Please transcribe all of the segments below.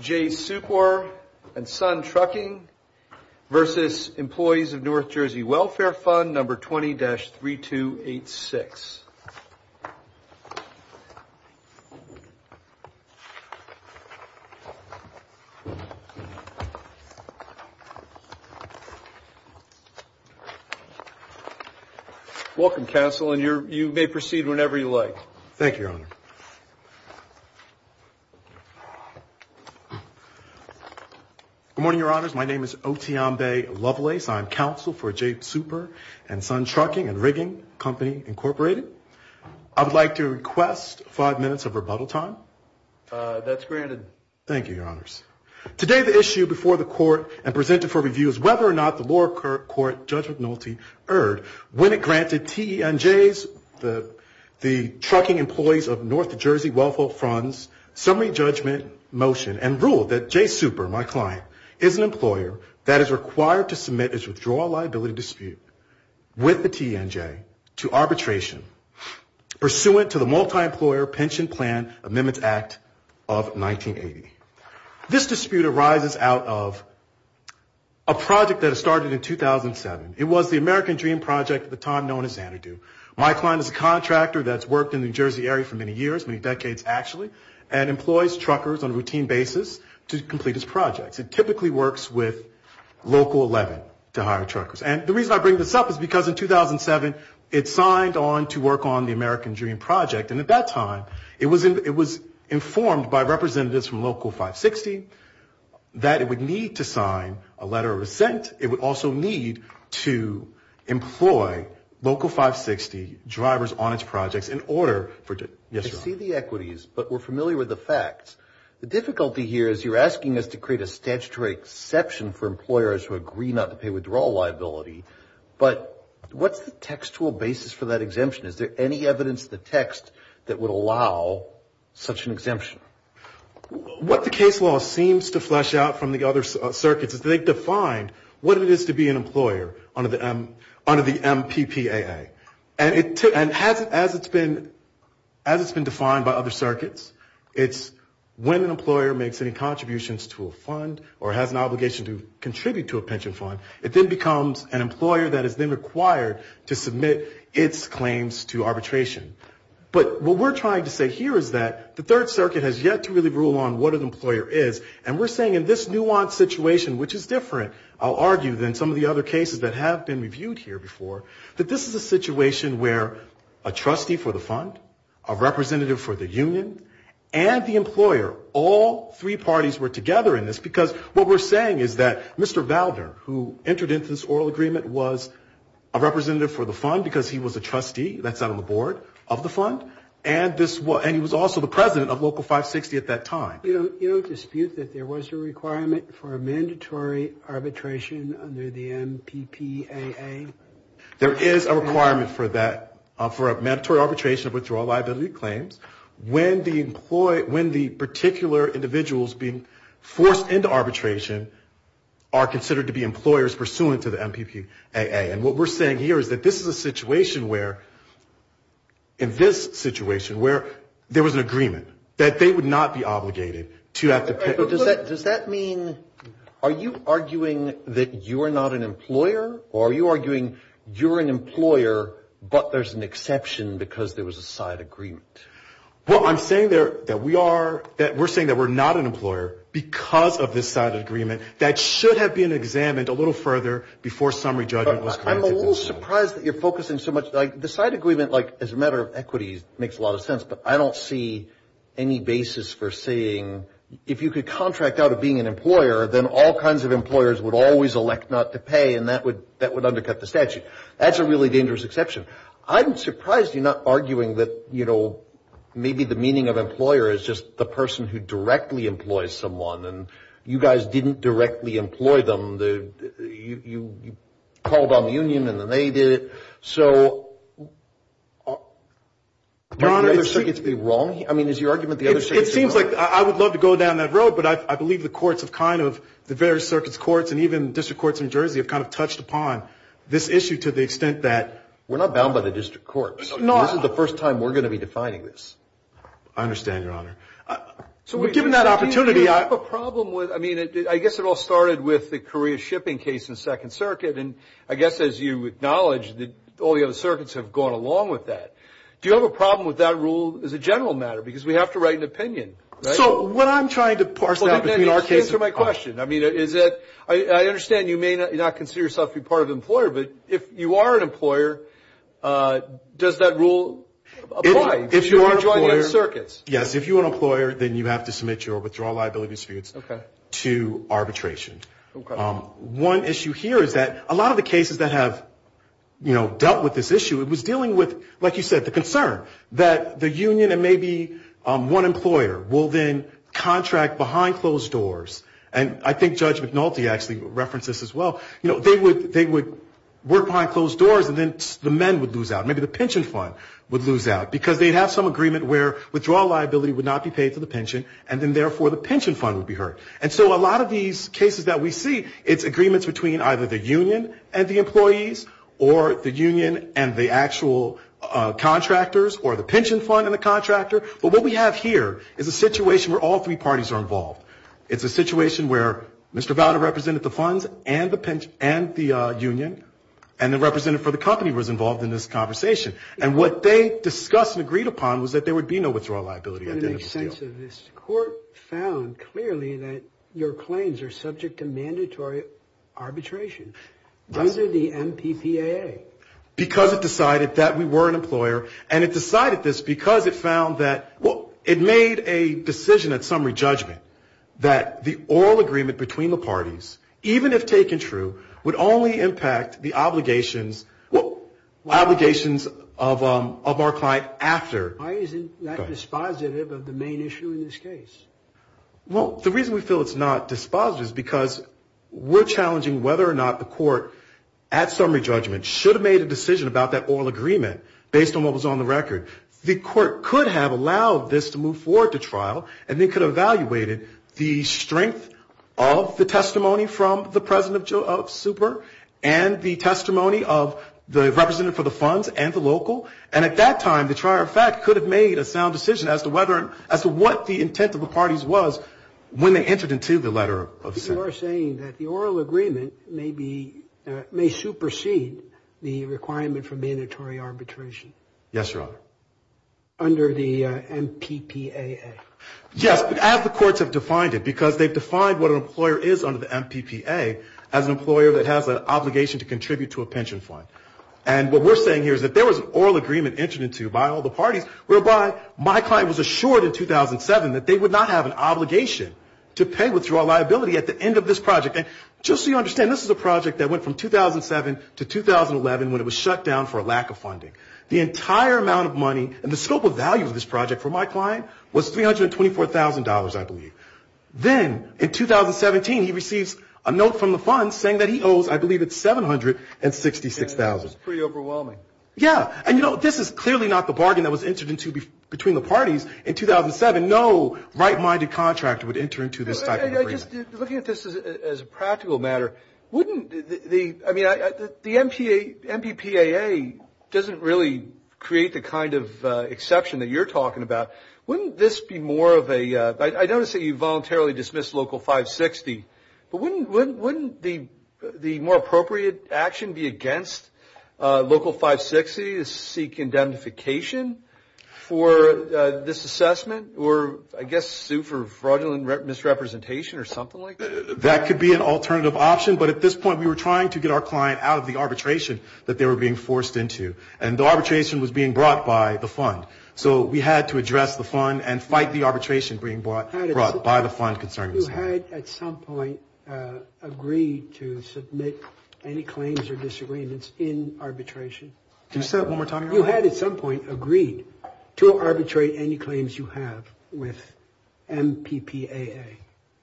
J Supor & Son Trucking v. Employees of North Jersey Welfare Fund, No. 20-3286 Welcome, Counsel, and you may proceed whenever you like. Thank you, Your Honor. Good morning, Your Honors. My name is Otionbe Lovelace. I am Counsel for J Supor & Son Trucking & Rigging Company, Incorporated. I would like to request five minutes of rebuttal time. That's granted. Thank you, Your Honors. Today, the issue before the Court and presented for review is whether or not the lower court judgmentalty erred when it granted TENJ's, the Trucking Employees of North Jersey Welfare Fund's, summary judgment motion and ruled that J Supor, my client, is an employer that is required to submit its withdrawal liability dispute with the TENJ to arbitration pursuant to the Multi-Employer Pension Plan Amendments Act of 1980. This dispute arises out of a project that started in 2007. It was the American Dream Project at the time known as Xanadu. My client is a contractor that's worked in the New Jersey area for many years, many decades, actually, and employs truckers on a routine basis to complete its projects. It typically works with Local 11 to hire truckers. And the reason I bring this up is because in 2007, it signed on to work on the American Dream Project, and at that time, it was informed by representatives from Local 560 that it would need to sign a letter of assent. It would also need to employ Local 560 drivers on its projects in order for it to exceed the equities, but we're familiar with the facts. The difficulty here is you're asking us to create a statutory exception for employers who agree not to pay withdrawal liability, but what's the textual basis for that exemption? Is there any evidence in the text that would allow such an exemption? What the case law seems to flesh out from the other circuits is they've defined what it is to be an employer under the MPPAA. And as it's been defined by other circuits, it's when an employer makes any contributions to a fund or has an obligation to contribute to a pension fund, it then becomes an employer that is then required to submit its claims to arbitration. But what we're trying to say here is that the Third Circuit has yet to really rule on what an employer is, and we're saying in this nuanced situation, which is different, I'll argue, than some of the other cases that have been reviewed here before, that this is a situation where a trustee for the fund, a representative for the union, and the employer, all three parties were together in this because what we're saying is that Mr. Valder, who entered into this oral agreement, was a representative for the fund because he was a trustee. That's out on the board of the fund, and he was also the president of Local 560 at that time. You don't dispute that there was a requirement for a mandatory arbitration under the MPPAA? There is a requirement for that, for a mandatory arbitration of withdrawal liability claims, when the particular individuals being forced into arbitration are considered to be employers pursuant to the MPPAA. And what we're saying here is that this is a situation where, in this situation, where there was an agreement that they would not be obligated to have to pay. But does that mean, are you arguing that you are not an employer, or are you arguing you're an employer, but there's an exception because there was a side agreement? Well, I'm saying that we are, that we're saying that we're not an employer because of this side agreement that should have been examined a little further before summary judgment was granted. I'm a little surprised that you're focusing so much. The side agreement, as a matter of equity, makes a lot of sense, but I don't see any basis for saying if you could contract out of being an employer, then all kinds of employers would always elect not to pay, and that would undercut the statute. That's a really dangerous exception. I'm surprised you're not arguing that, you know, maybe the meaning of employer is just the person who directly employs someone, and you guys didn't directly employ them. You called on the union, and then they did it. So might the other circuits be wrong? I mean, is your argument the other circuits are wrong? It seems like I would love to go down that road, but I believe the courts have kind of, the various circuits, courts, and even district courts in New Jersey have kind of touched upon this issue to the extent that... We're not bound by the district courts. This is the first time we're going to be defining this. I understand, Your Honor. So we're given that opportunity. Do you have a problem with, I mean, I guess it all started with the Korea shipping case in Second Circuit, and I guess as you acknowledge, all the other circuits have gone along with that. Do you have a problem with that rule as a general matter, because we have to write an opinion, right? So what I'm trying to parse out between our cases... Answer my question. I mean, is that, I understand you may not consider yourself to be part of the employer, but if you are an employer, does that rule apply if you are joining other circuits? Yes, if you're an employer, then you have to submit your withdrawal liability certificates to arbitration. Okay. One issue here is that a lot of the cases that have, you know, dealt with this issue, it was dealing with, like you said, the concern that the union and maybe one employer will then contract behind closed doors. And I think Judge McNulty actually referenced this as well. You know, they would work behind closed doors, and then the men would lose out. Maybe the pension fund would lose out, because they'd have some agreement where withdrawal liability would not be paid for the pension, and then therefore the pension fund would be hurt. And so a lot of these cases that we see, it's agreements between either the union and the employees or the union and the actual contractors or the pension fund and the contractor. But what we have here is a situation where all three parties are involved. It's a situation where Mr. Valda represented the funds and the union, and the representative for the company was involved in this conversation. And what they discussed and agreed upon was that there would be no withdrawal liability at the end of the deal. So this court found clearly that your claims are subject to mandatory arbitration under the MPPAA. Because it decided that we were an employer, and it decided this because it found that, well, it made a decision at summary judgment that the oral agreement between the parties, even if taken true, would only impact the obligations of our client after. Why isn't that dispositive of the main issue in this case? Well, the reason we feel it's not dispositive is because we're challenging whether or not the court, at summary judgment, should have made a decision about that oral agreement based on what was on the record. The court could have allowed this to move forward to trial, and they could have evaluated the strength of the testimony from the president of Super and the testimony of the representative for the funds and the local. And at that time, the trier of fact could have made a sound decision as to whether and as to what the intent of the parties was when they entered into the letter of summary. You are saying that the oral agreement may be, may supersede the requirement for mandatory arbitration. Yes, Your Honor. Under the MPPAA. Yes, as the courts have defined it, because they've defined what an employer is under the MPPAA as an employer that has an obligation to contribute to a pension fund. And what we're saying here is that there was an oral agreement entered into by all the parties whereby my client was assured in 2007 that they would not have an obligation to pay withdrawal liability at the end of this project. And just so you understand, this is a project that went from 2007 to 2011 when it was shut down for a lack of funding. The entire amount of money and the scope of value of this project for my client was $324,000, I believe. Then in 2017, he receives a note from the fund saying that he owes, I believe, $766,000. That's pretty overwhelming. Yeah. And, you know, this is clearly not the bargain that was entered into between the parties in 2007. No right-minded contractor would enter into this type of agreement. Just looking at this as a practical matter, wouldn't the, I mean, the MPPAA doesn't really create the kind of exception that you're talking about. Wouldn't this be more of a, I notice that you voluntarily dismissed Local 560. But wouldn't the more appropriate action be against Local 560 to seek indemnification for this assessment or I guess sue for fraudulent misrepresentation or something like that? That could be an alternative option. But at this point, we were trying to get our client out of the arbitration that they were being forced into. And the arbitration was being brought by the fund. So we had to address the fund and fight the arbitration being brought by the fund concerned. You had at some point agreed to submit any claims or disagreements in arbitration. Can you say that one more time? You had at some point agreed to arbitrate any claims you have with MPPAA.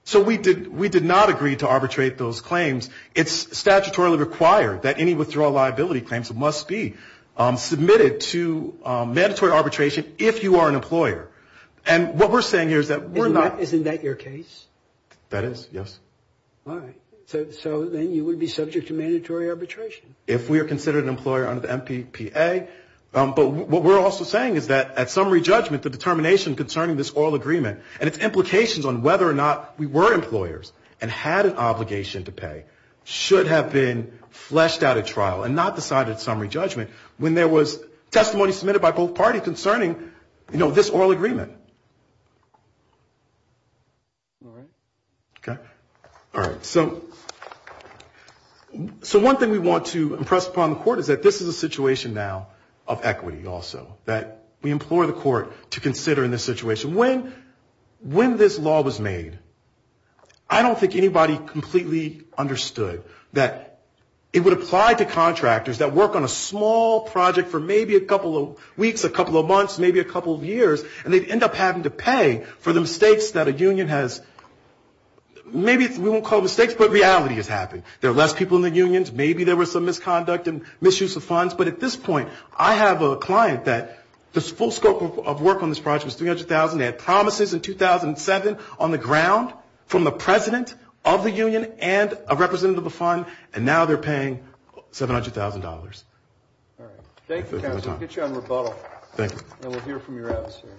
So we did not agree to arbitrate those claims. It's statutorily required that any withdrawal liability claims must be submitted to mandatory arbitration if you are an employer. And what we're saying here is that we're not. Isn't that your case? That is, yes. All right. So then you would be subject to mandatory arbitration. If we are considered an employer under the MPPAA. But what we're also saying is that at summary judgment, the determination concerning this oil agreement and its implications on whether or not we were employers and had an obligation to pay should have been fleshed out at trial and not decided at summary judgment when there was testimony submitted by both parties concerning, you know, this oil agreement. All right. Okay. All right. So one thing we want to impress upon the court is that this is a situation now of equity also, that we implore the court to consider in this situation. When this law was made, I don't think anybody completely understood that it would apply to contractors that work on a small project for maybe a couple of weeks, a couple of months, maybe a couple of years, and they'd end up having to pay for the mistakes that a union has, maybe we won't call mistakes, but reality has happened. There are less people in the unions. I have a client that the full scope of work on this project was $300,000. They had promises in 2007 on the ground from the president of the union and a representative of the fund, and now they're paying $700,000. All right. Thank you, counsel. We'll get you on rebuttal. Thank you. And we'll hear from your adversary.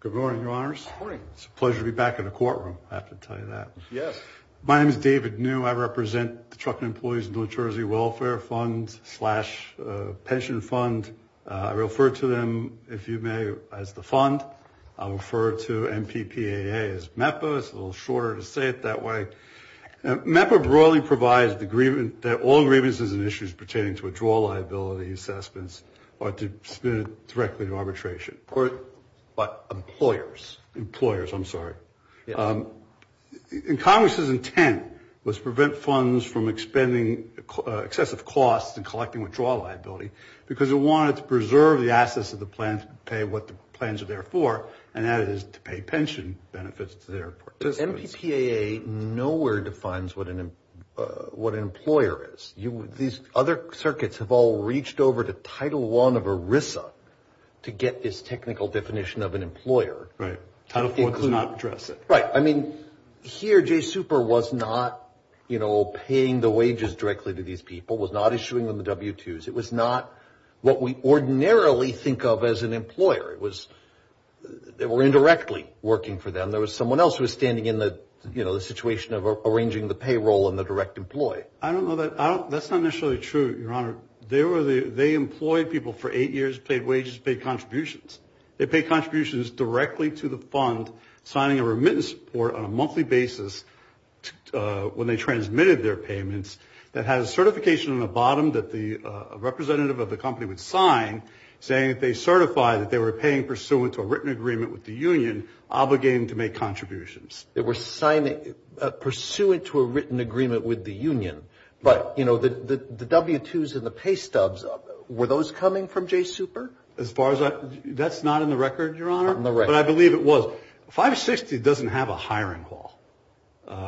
Good morning, Your Honors. Good morning. It's a pleasure to be back in the courtroom, I have to tell you that. Yes. My name is David New. I represent the Truckee Employees and New Jersey Welfare Fund slash pension fund. I refer to them, if you may, as the fund. I refer to MPPAA as MEPA. It's a little shorter to say it that way. MEPA broadly provides that all grievances and issues pertaining to withdrawal liability assessments are to be submitted directly to arbitration. But employers. Employers, I'm sorry. Congress's intent was to prevent funds from expending excessive costs and collecting withdrawal liability because it wanted to preserve the assets of the plan to pay what the plans are there for, and that is to pay pension benefits to their participants. MPPAA nowhere defines what an employer is. These other circuits have all reached over to Title I of ERISA to get this technical definition of an employer. Right. Title IV does not address it. Right. I mean, here, J. Super was not, you know, paying the wages directly to these people, was not issuing them the W-2s. It was not what we ordinarily think of as an employer. It was indirectly working for them. There was someone else who was standing in the, you know, the situation of arranging the payroll and the direct employee. I don't know that. That's not necessarily true, Your Honor. They employed people for eight years, paid wages, paid contributions. They paid contributions directly to the fund, signing a remittance report on a monthly basis when they transmitted their payments that has certification on the bottom that the representative of the company would sign saying that they certify that they were paying pursuant to a written agreement with the union obligating to make contributions. They were signing pursuant to a written agreement with the union. But, you know, the W-2s and the pay stubs, were those coming from J. Super? That's not in the record, Your Honor. But I believe it was. 560 doesn't have a hiring call,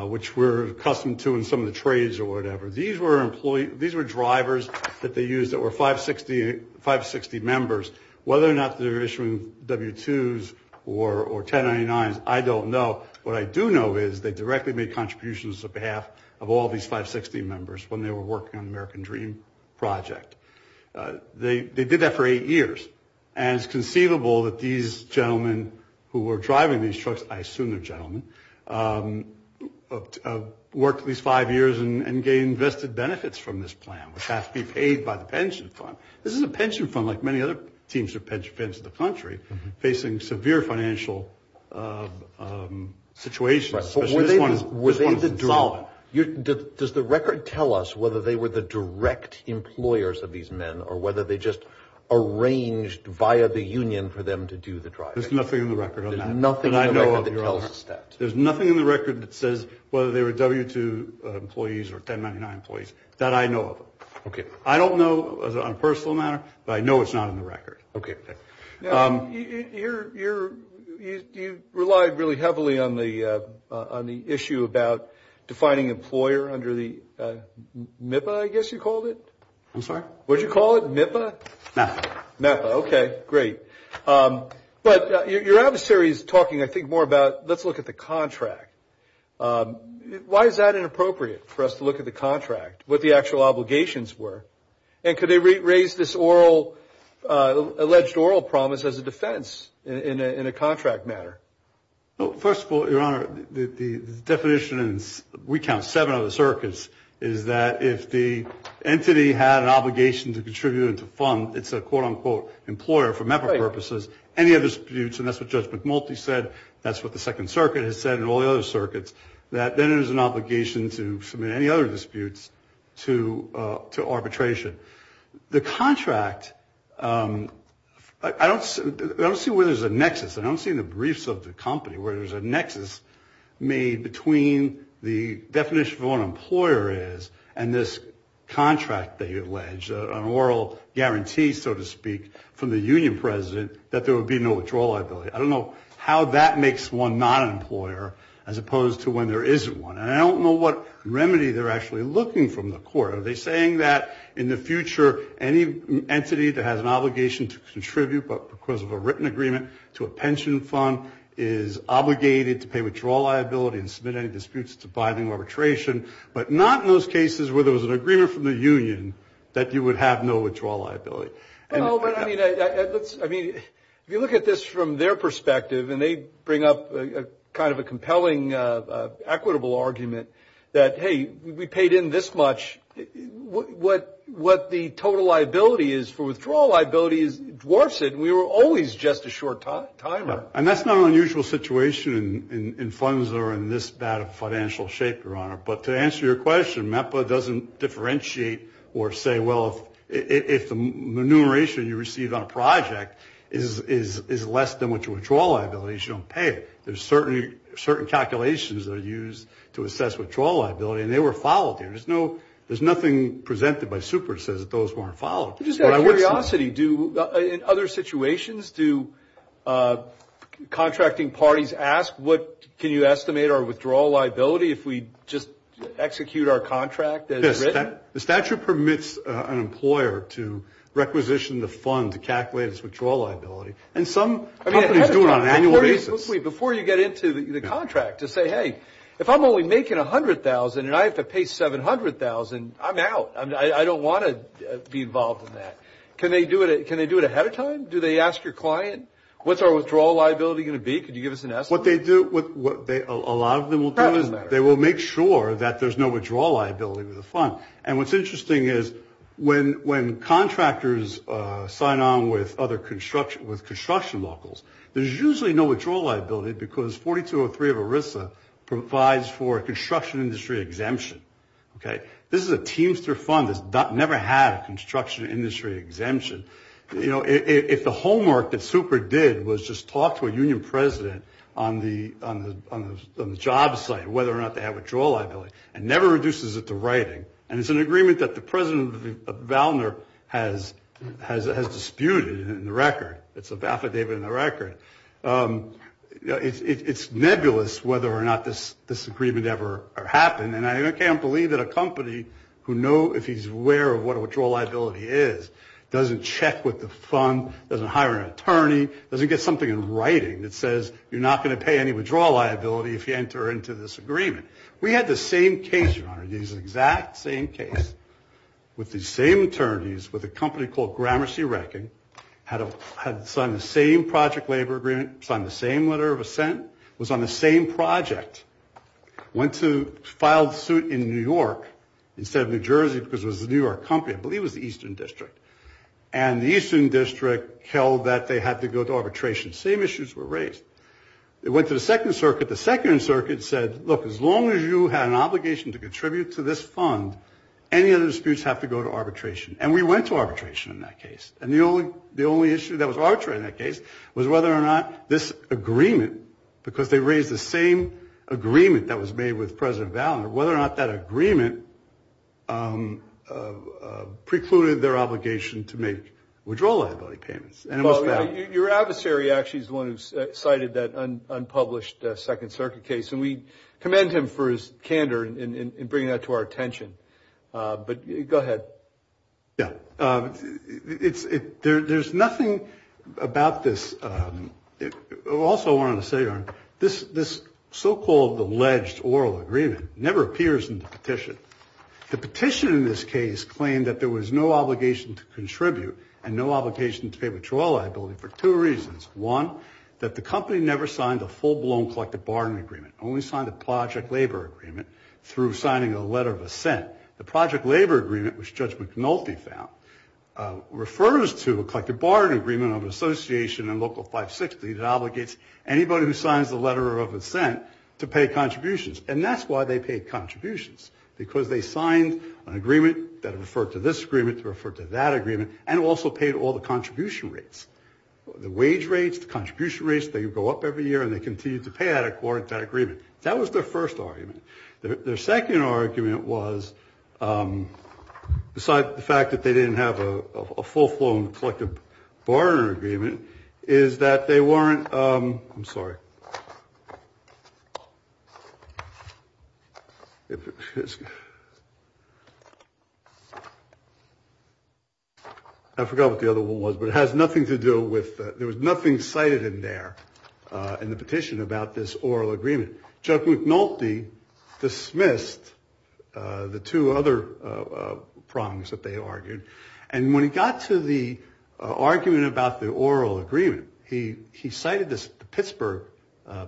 which we're accustomed to in some of the trades or whatever. These were drivers that they used that were 560 members. Whether or not they were issuing W-2s or 1099s, I don't know. But what I do know is they directly made contributions on behalf of all these 560 members when they were working on the American Dream project. They did that for eight years. And it's conceivable that these gentlemen who were driving these trucks, I assume they're gentlemen, worked at least five years and gained vested benefits from this plan, which has to be paid by the pension fund. This is a pension fund like many other teams of pension funds in the country facing severe financial situations, especially this one is insolvent. Does the record tell us whether they were the direct employers of these men or whether they just arranged via the union for them to do the driving? There's nothing in the record on that. There's nothing in the record that tells us that. There's nothing in the record that says whether they were W-2 employees or 1099 employees. That I know of. Okay. I don't know on a personal matter, but I know it's not in the record. Okay. Now, you relied really heavily on the issue about defining employer under the MIPA, I guess you called it. I'm sorry? What did you call it, MIPA? MEPA. MEPA, okay, great. But your adversary is talking, I think, more about let's look at the contract. Why is that inappropriate for us to look at the contract, what the actual obligations were? And could they raise this alleged oral promise as a defense in a contract matter? Well, first of all, Your Honor, the definition, and we count seven other circuits, is that if the entity had an obligation to contribute and to fund, it's a, quote, unquote, employer for MEPA purposes, any other disputes, and that's what Judge McMulty said, that's what the Second Circuit has said and all the other circuits, that then there's an obligation to submit any other disputes to arbitration. The contract, I don't see where there's a nexus. I don't see in the briefs of the company where there's a nexus made between the definition of what an employer is and this contract that you allege, an oral guarantee, so to speak, from the union president, that there would be no withdrawal liability. I don't know how that makes one not an employer as opposed to when there isn't one. And I don't know what remedy they're actually looking from the court. Are they saying that in the future any entity that has an obligation to contribute because of a written agreement to a pension fund is obligated to pay withdrawal liability and submit any disputes to binding arbitration, but not in those cases where there was an agreement from the union that you would have no withdrawal liability. Well, I mean, if you look at this from their perspective, and they bring up kind of a compelling equitable argument that, hey, we paid in this much, what the total liability is for withdrawal liability dwarfs it, and we were always just a short timer. And that's not an unusual situation in funds that are in this bad of a financial shape, Your Honor. But to answer your question, MEPA doesn't differentiate or say, well, if the enumeration you receive on a project is less than what your withdrawal liability is, you don't pay it. There's certain calculations that are used to assess withdrawal liability, and they were followed here. There's nothing presented by super that says that those weren't followed. Just out of curiosity, in other situations, do contracting parties ask, can you estimate our withdrawal liability if we just execute our contract as written? The statute permits an employer to requisition the fund to calculate its withdrawal liability, and some companies do it on an annual basis. Before you get into the contract, just say, hey, if I'm only making $100,000 and I have to pay $700,000, I'm out. I don't want to be involved in that. Can they do it ahead of time? Do they ask your client, what's our withdrawal liability going to be? Could you give us an estimate? What a lot of them will do is they will make sure that there's no withdrawal liability with the fund. And what's interesting is when contractors sign on with construction locals, there's usually no withdrawal liability because 4203 of ERISA provides for a construction industry exemption. This is a Teamster fund that's never had a construction industry exemption. If the homework that Super did was just talk to a union president on the job site, whether or not they have withdrawal liability, it never reduces it to writing, and it's an agreement that the president of Valner has disputed in the record. It's an affidavit in the record. It's nebulous whether or not this agreement ever happened, and I can't believe that a company who know if he's aware of what a withdrawal liability is doesn't check with the fund, doesn't hire an attorney, doesn't get something in writing that says you're not going to pay any withdrawal liability if you enter into this agreement. We had the same case, Your Honor, the exact same case with the same attorneys, with a company called Gramercy Reckon, had signed the same project labor agreement, signed the same letter of assent, was on the same project, went to file suit in New York instead of New Jersey because it was a New York company, I believe it was the Eastern District, and the Eastern District held that they had to go to arbitration. Same issues were raised. It went to the Second Circuit. The Second Circuit said, look, as long as you have an obligation to contribute to this fund, any other disputes have to go to arbitration, and we went to arbitration in that case, and the only issue that was arbitrary in that case was whether or not this agreement, because they raised the same agreement that was made with President Valentine, whether or not that agreement precluded their obligation to make withdrawal liability payments. Your adversary actually is the one who cited that unpublished Second Circuit case, and we commend him for his candor in bringing that to our attention, but go ahead. Yeah. There's nothing about this. Also, I wanted to say, this so-called alleged oral agreement never appears in the petition. The petition in this case claimed that there was no obligation to contribute and no obligation to pay withdrawal liability for two reasons. One, that the company never signed a full-blown collective bargaining agreement, only signed a project labor agreement through signing a letter of assent. And the project labor agreement, which Judge McNulty found, refers to a collective bargaining agreement of an association in Local 560 that obligates anybody who signs the letter of assent to pay contributions, and that's why they paid contributions, because they signed an agreement that referred to this agreement to refer to that agreement, and also paid all the contribution rates, the wage rates, the contribution rates. They go up every year, and they continue to pay that according to that agreement. That was their first argument. Their second argument was, besides the fact that they didn't have a full-blown collective bargaining agreement, is that they weren't – I'm sorry. I forgot what the other one was, but it has nothing to do with – there was nothing cited in there in the petition about this oral agreement. Judge McNulty dismissed the two other prongs that they argued, and when he got to the argument about the oral agreement, he cited the Pittsburgh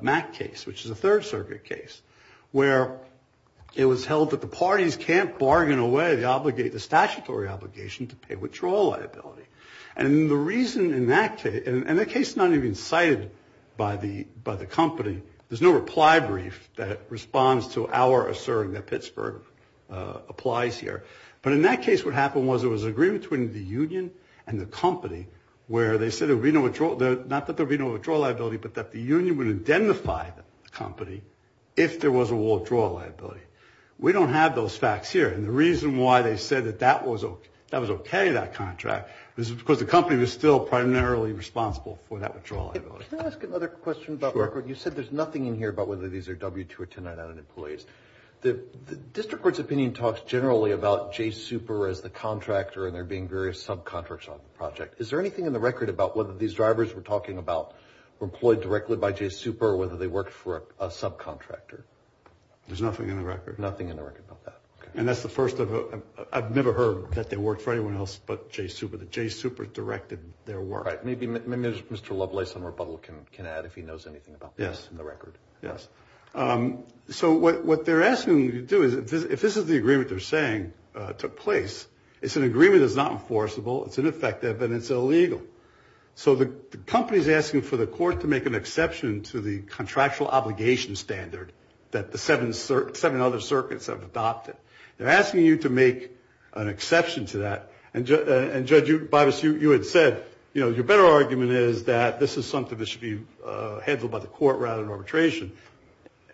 MAC case, which is a Third Circuit case, where it was held that the parties can't bargain away the statutory obligation to pay withdrawal liability. And the reason in that case – and the case is not even cited by the company. There's no reply brief that responds to our asserting that Pittsburgh applies here. But in that case, what happened was there was an agreement between the union and the company where they said there would be no – not that there would be no withdrawal liability, but that the union would identify the company if there was a withdrawal liability. We don't have those facts here. And the reason why they said that that was okay, that contract, is because the company was still primarily responsible for that withdrawal liability. Can I ask another question about the record? You said there's nothing in here about whether these are W-2 or 10-9-9 employees. The district court's opinion talks generally about Jay Super as the contractor and there being various subcontracts on the project. Is there anything in the record about whether these drivers we're talking about were employed directly by Jay Super or whether they worked for a subcontractor? There's nothing in the record. Nothing in the record about that. And that's the first of – I've never heard that they worked for anyone else but Jay Super. Jay Super directed their work. Right. Maybe Mr. Lovelace on rebuttal can add if he knows anything about this in the record. Yes. So what they're asking you to do is if this is the agreement they're saying took place, it's an agreement that's not enforceable, it's ineffective, and it's illegal. So the company's asking for the court to make an exception to the contractual obligation standard that the seven other circuits have adopted. They're asking you to make an exception to that. And, Judge Bibas, you had said, you know, your better argument is that this is something that should be handled by the court rather than arbitration.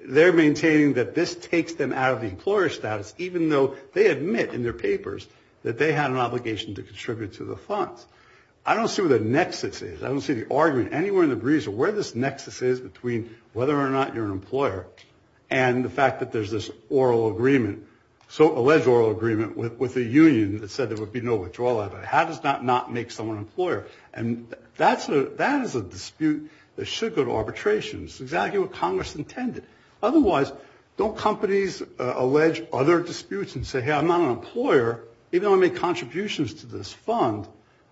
They're maintaining that this takes them out of the employer status, even though they admit in their papers that they had an obligation to contribute to the funds. I don't see what the nexus is. I don't see the argument anywhere in the breeze or where this nexus is between whether or not you're an employer and the fact that there's this oral agreement, so alleged oral agreement with a union that said there would be no withdrawal. How does that not make someone an employer? And that is a dispute that should go to arbitration. It's exactly what Congress intended. Otherwise, don't companies allege other disputes and say, hey, I'm not an employer, even though I made contributions to this fund,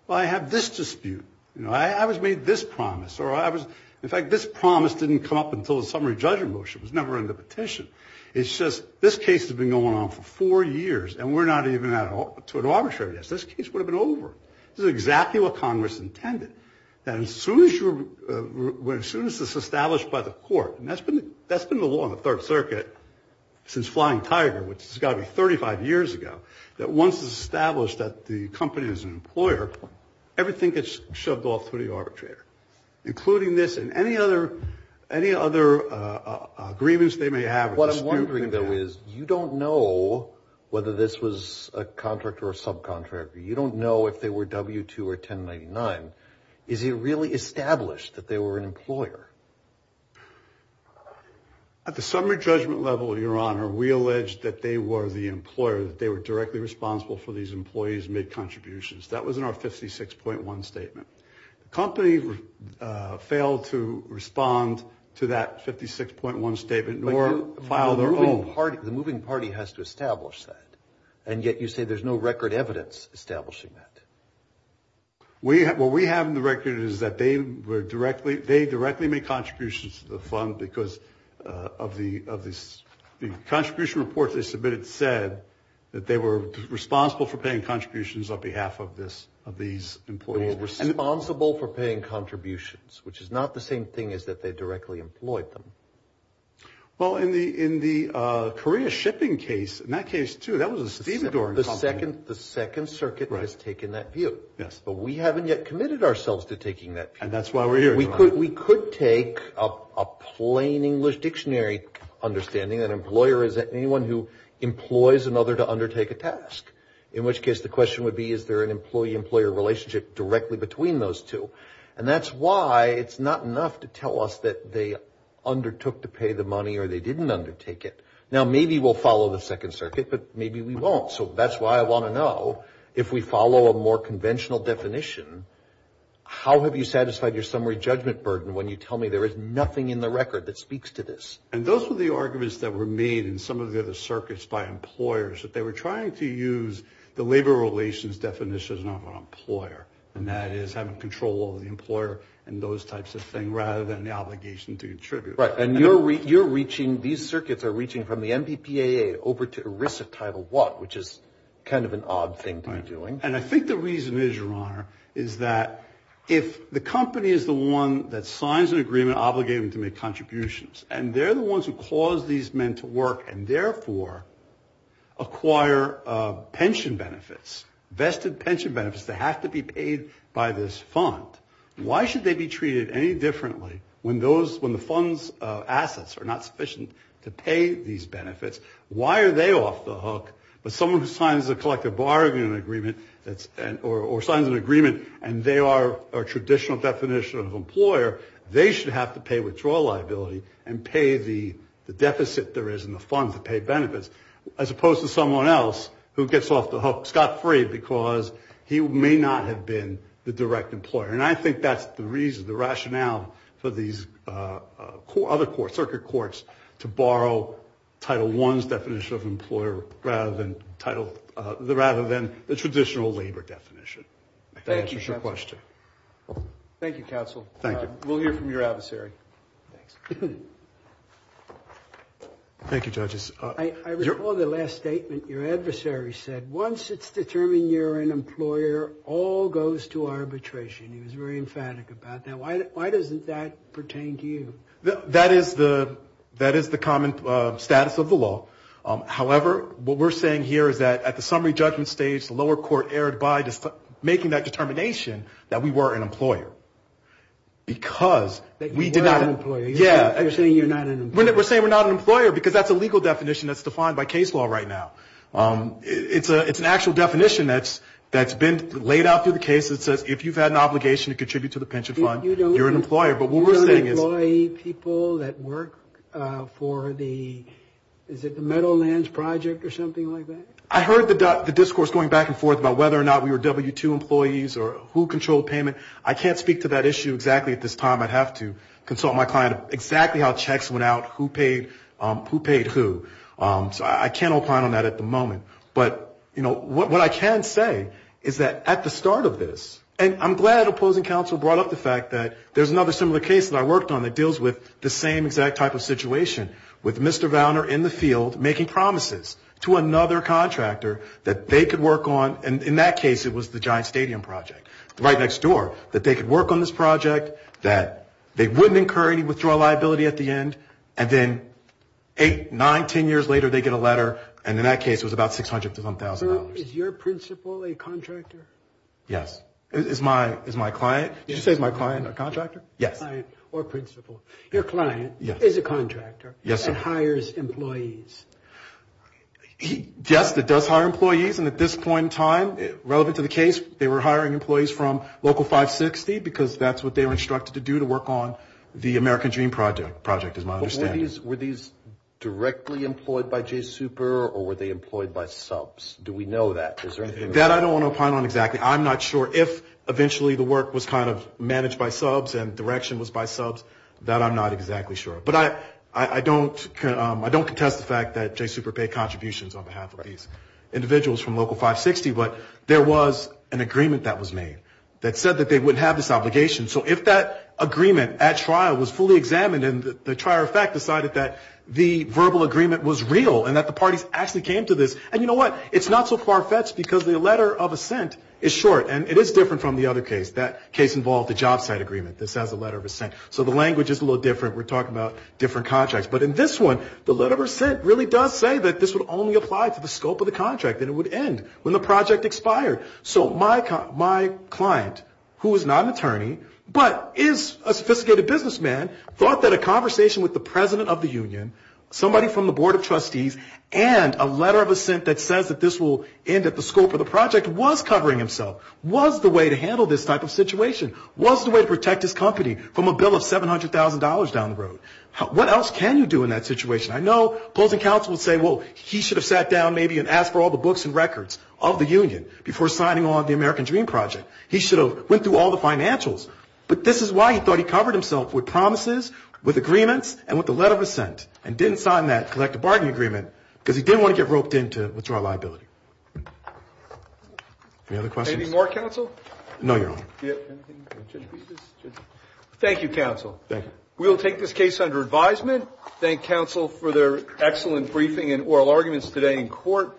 but I have this dispute. You know, I was made this promise. In fact, this promise didn't come up until the summary judgment motion. It was never in the petition. It's just this case has been going on for four years, and we're not even at an arbitration. This case would have been over. This is exactly what Congress intended. And as soon as this is established by the court, and that's been the law in the Third Circuit since Flying Tiger, which has got to be 35 years ago, that once it's established that the company is an employer, everything gets shoved off to the arbitrator, including this and any other agreements they may have. What I'm wondering, though, is you don't know whether this was a contract or a subcontractor. You don't know if they were W-2 or 1099. Is it really established that they were an employer? At the summary judgment level, Your Honor, we allege that they were the employer, that they were directly responsible for these employees' contributions. That was in our 56.1 statement. The company failed to respond to that 56.1 statement, nor file their own. But the moving party has to establish that, and yet you say there's no record evidence establishing that. What we have in the record is that they directly made contributions to the fund because of the contribution report they submitted said that they were responsible for paying contributions on behalf of these employees. They were responsible for paying contributions, which is not the same thing as that they directly employed them. Well, in the Korea shipping case, in that case, too, that was a Stephen Dorn company. The Second Circuit has taken that view. Yes. But we haven't yet committed ourselves to taking that view. And that's why we're here, Your Honor. We could take a plain English dictionary understanding, an employer is anyone who employs another to undertake a task, in which case the question would be, is there an employee-employer relationship directly between those two? And that's why it's not enough to tell us that they undertook to pay the money or they didn't undertake it. Now, maybe we'll follow the Second Circuit, but maybe we won't. So that's why I want to know if we follow a more conventional definition, how have you satisfied your summary judgment burden when you tell me there is nothing in the record that speaks to this? And those were the arguments that were made in some of the other circuits by employer and that is having control over the employer and those types of things rather than the obligation to contribute. Right. And you're reaching, these circuits are reaching from the MPPAA over to ERISA Title I, which is kind of an odd thing to be doing. And I think the reason is, Your Honor, is that if the company is the one that signs an agreement obligating them to make contributions, and they're the ones who cause these men to work and therefore acquire pension benefits, vested pension benefits that have to be paid by this fund, why should they be treated any differently when the fund's assets are not sufficient to pay these benefits? Why are they off the hook? But someone who signs a collective bargaining agreement or signs an agreement and they are a traditional definition of employer, they should have to pay withdrawal liability and pay the deficit there is in Scott Freed because he may not have been the direct employer. And I think that's the reason, the rationale for these other courts, circuit courts, to borrow Title I's definition of employer rather than the traditional labor definition. Thank you, Counsel. Thank you, Counsel. Thank you. We'll hear from your adversary. Thanks. Thank you, Judges. I recall the last statement your adversary said. Once it's determined you're an employer, all goes to arbitration. He was very emphatic about that. Why doesn't that pertain to you? That is the common status of the law. However, what we're saying here is that at the summary judgment stage, the lower court erred by making that determination that we were an employer because we did not. You're saying you're not an employer. We're saying we're not an employer because that's a legal definition that's defined by case law right now. It's an actual definition that's been laid out through the case that says if you've had an obligation to contribute to the pension fund, you're an employer. But what we're saying is. You don't employ people that work for the, is it the Meadowlands Project or something like that? I heard the discourse going back and forth about whether or not we were W-2 employees or who controlled payment. I can't speak to that issue exactly at this time. I'd have to consult my client exactly how checks went out, who paid who. So I can't opine on that at the moment. But, you know, what I can say is that at the start of this, and I'm glad Opposing Counsel brought up the fact that there's another similar case that I worked on that deals with the same exact type of situation, with Mr. Vowner in the field making promises to another contractor that they could work on, and in that case it was the Giant Stadium Project, right next door, that they could work on this project, that they wouldn't incur any withdrawal liability at the end, and then eight, nine, ten years later they get a letter, and in that case it was about $600,000. Is your principal a contractor? Yes. Is my client, did you say is my client a contractor? Yes. Or principal. Your client is a contractor. Yes, sir. And hires employees. Yes, it does hire employees, and at this point in time, relevant to the case, they were hiring employees from Local 560, because that's what they were instructed to do to work on the American Dream Project, is my understanding. But were these directly employed by J-Super, or were they employed by subs? Do we know that? That I don't want to opine on exactly. I'm not sure. If eventually the work was kind of managed by subs and direction was by subs, that I'm not exactly sure. But I don't contest the fact that J-Super paid contributions on behalf of these individuals from Local 560, but there was an agreement that was made that said that they wouldn't have this obligation. So if that agreement at trial was fully examined and the trier of fact decided that the verbal agreement was real and that the parties actually came to this, and you know what? It's not so far-fetched because the letter of assent is short, and it is different from the other case. That case involved the job site agreement. This has a letter of assent. So the language is a little different. We're talking about different contracts. But in this one, the letter of assent really does say that this would only apply to the scope of the contract and it would end when the project expired. So my client, who is not an attorney, but is a sophisticated businessman, thought that a conversation with the president of the union, somebody from the board of trustees, and a letter of assent that says that this will end at the scope of the project was covering himself, was the way to handle this type of situation, was the way to protect his company from a bill of $700,000 down the road. What else can you do in that situation? I know opposing counsel would say, well, he should have sat down maybe and asked for all the books and records of the union before signing on the American Dream Project. He should have went through all the financials. But this is why he thought he covered himself with promises, with agreements, and with the letter of assent, and didn't sign that collective bargaining agreement because he didn't want to get roped in to withdraw liability. Any other questions? Anything more, counsel? No, Your Honor. Thank you, counsel. Thank you. We will take this case under advisement. Thank counsel for their excellent briefing and oral arguments today in court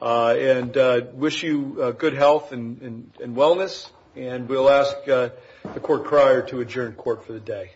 and wish you good health and wellness. And we'll ask the court crier to adjourn court for the day. Thank you.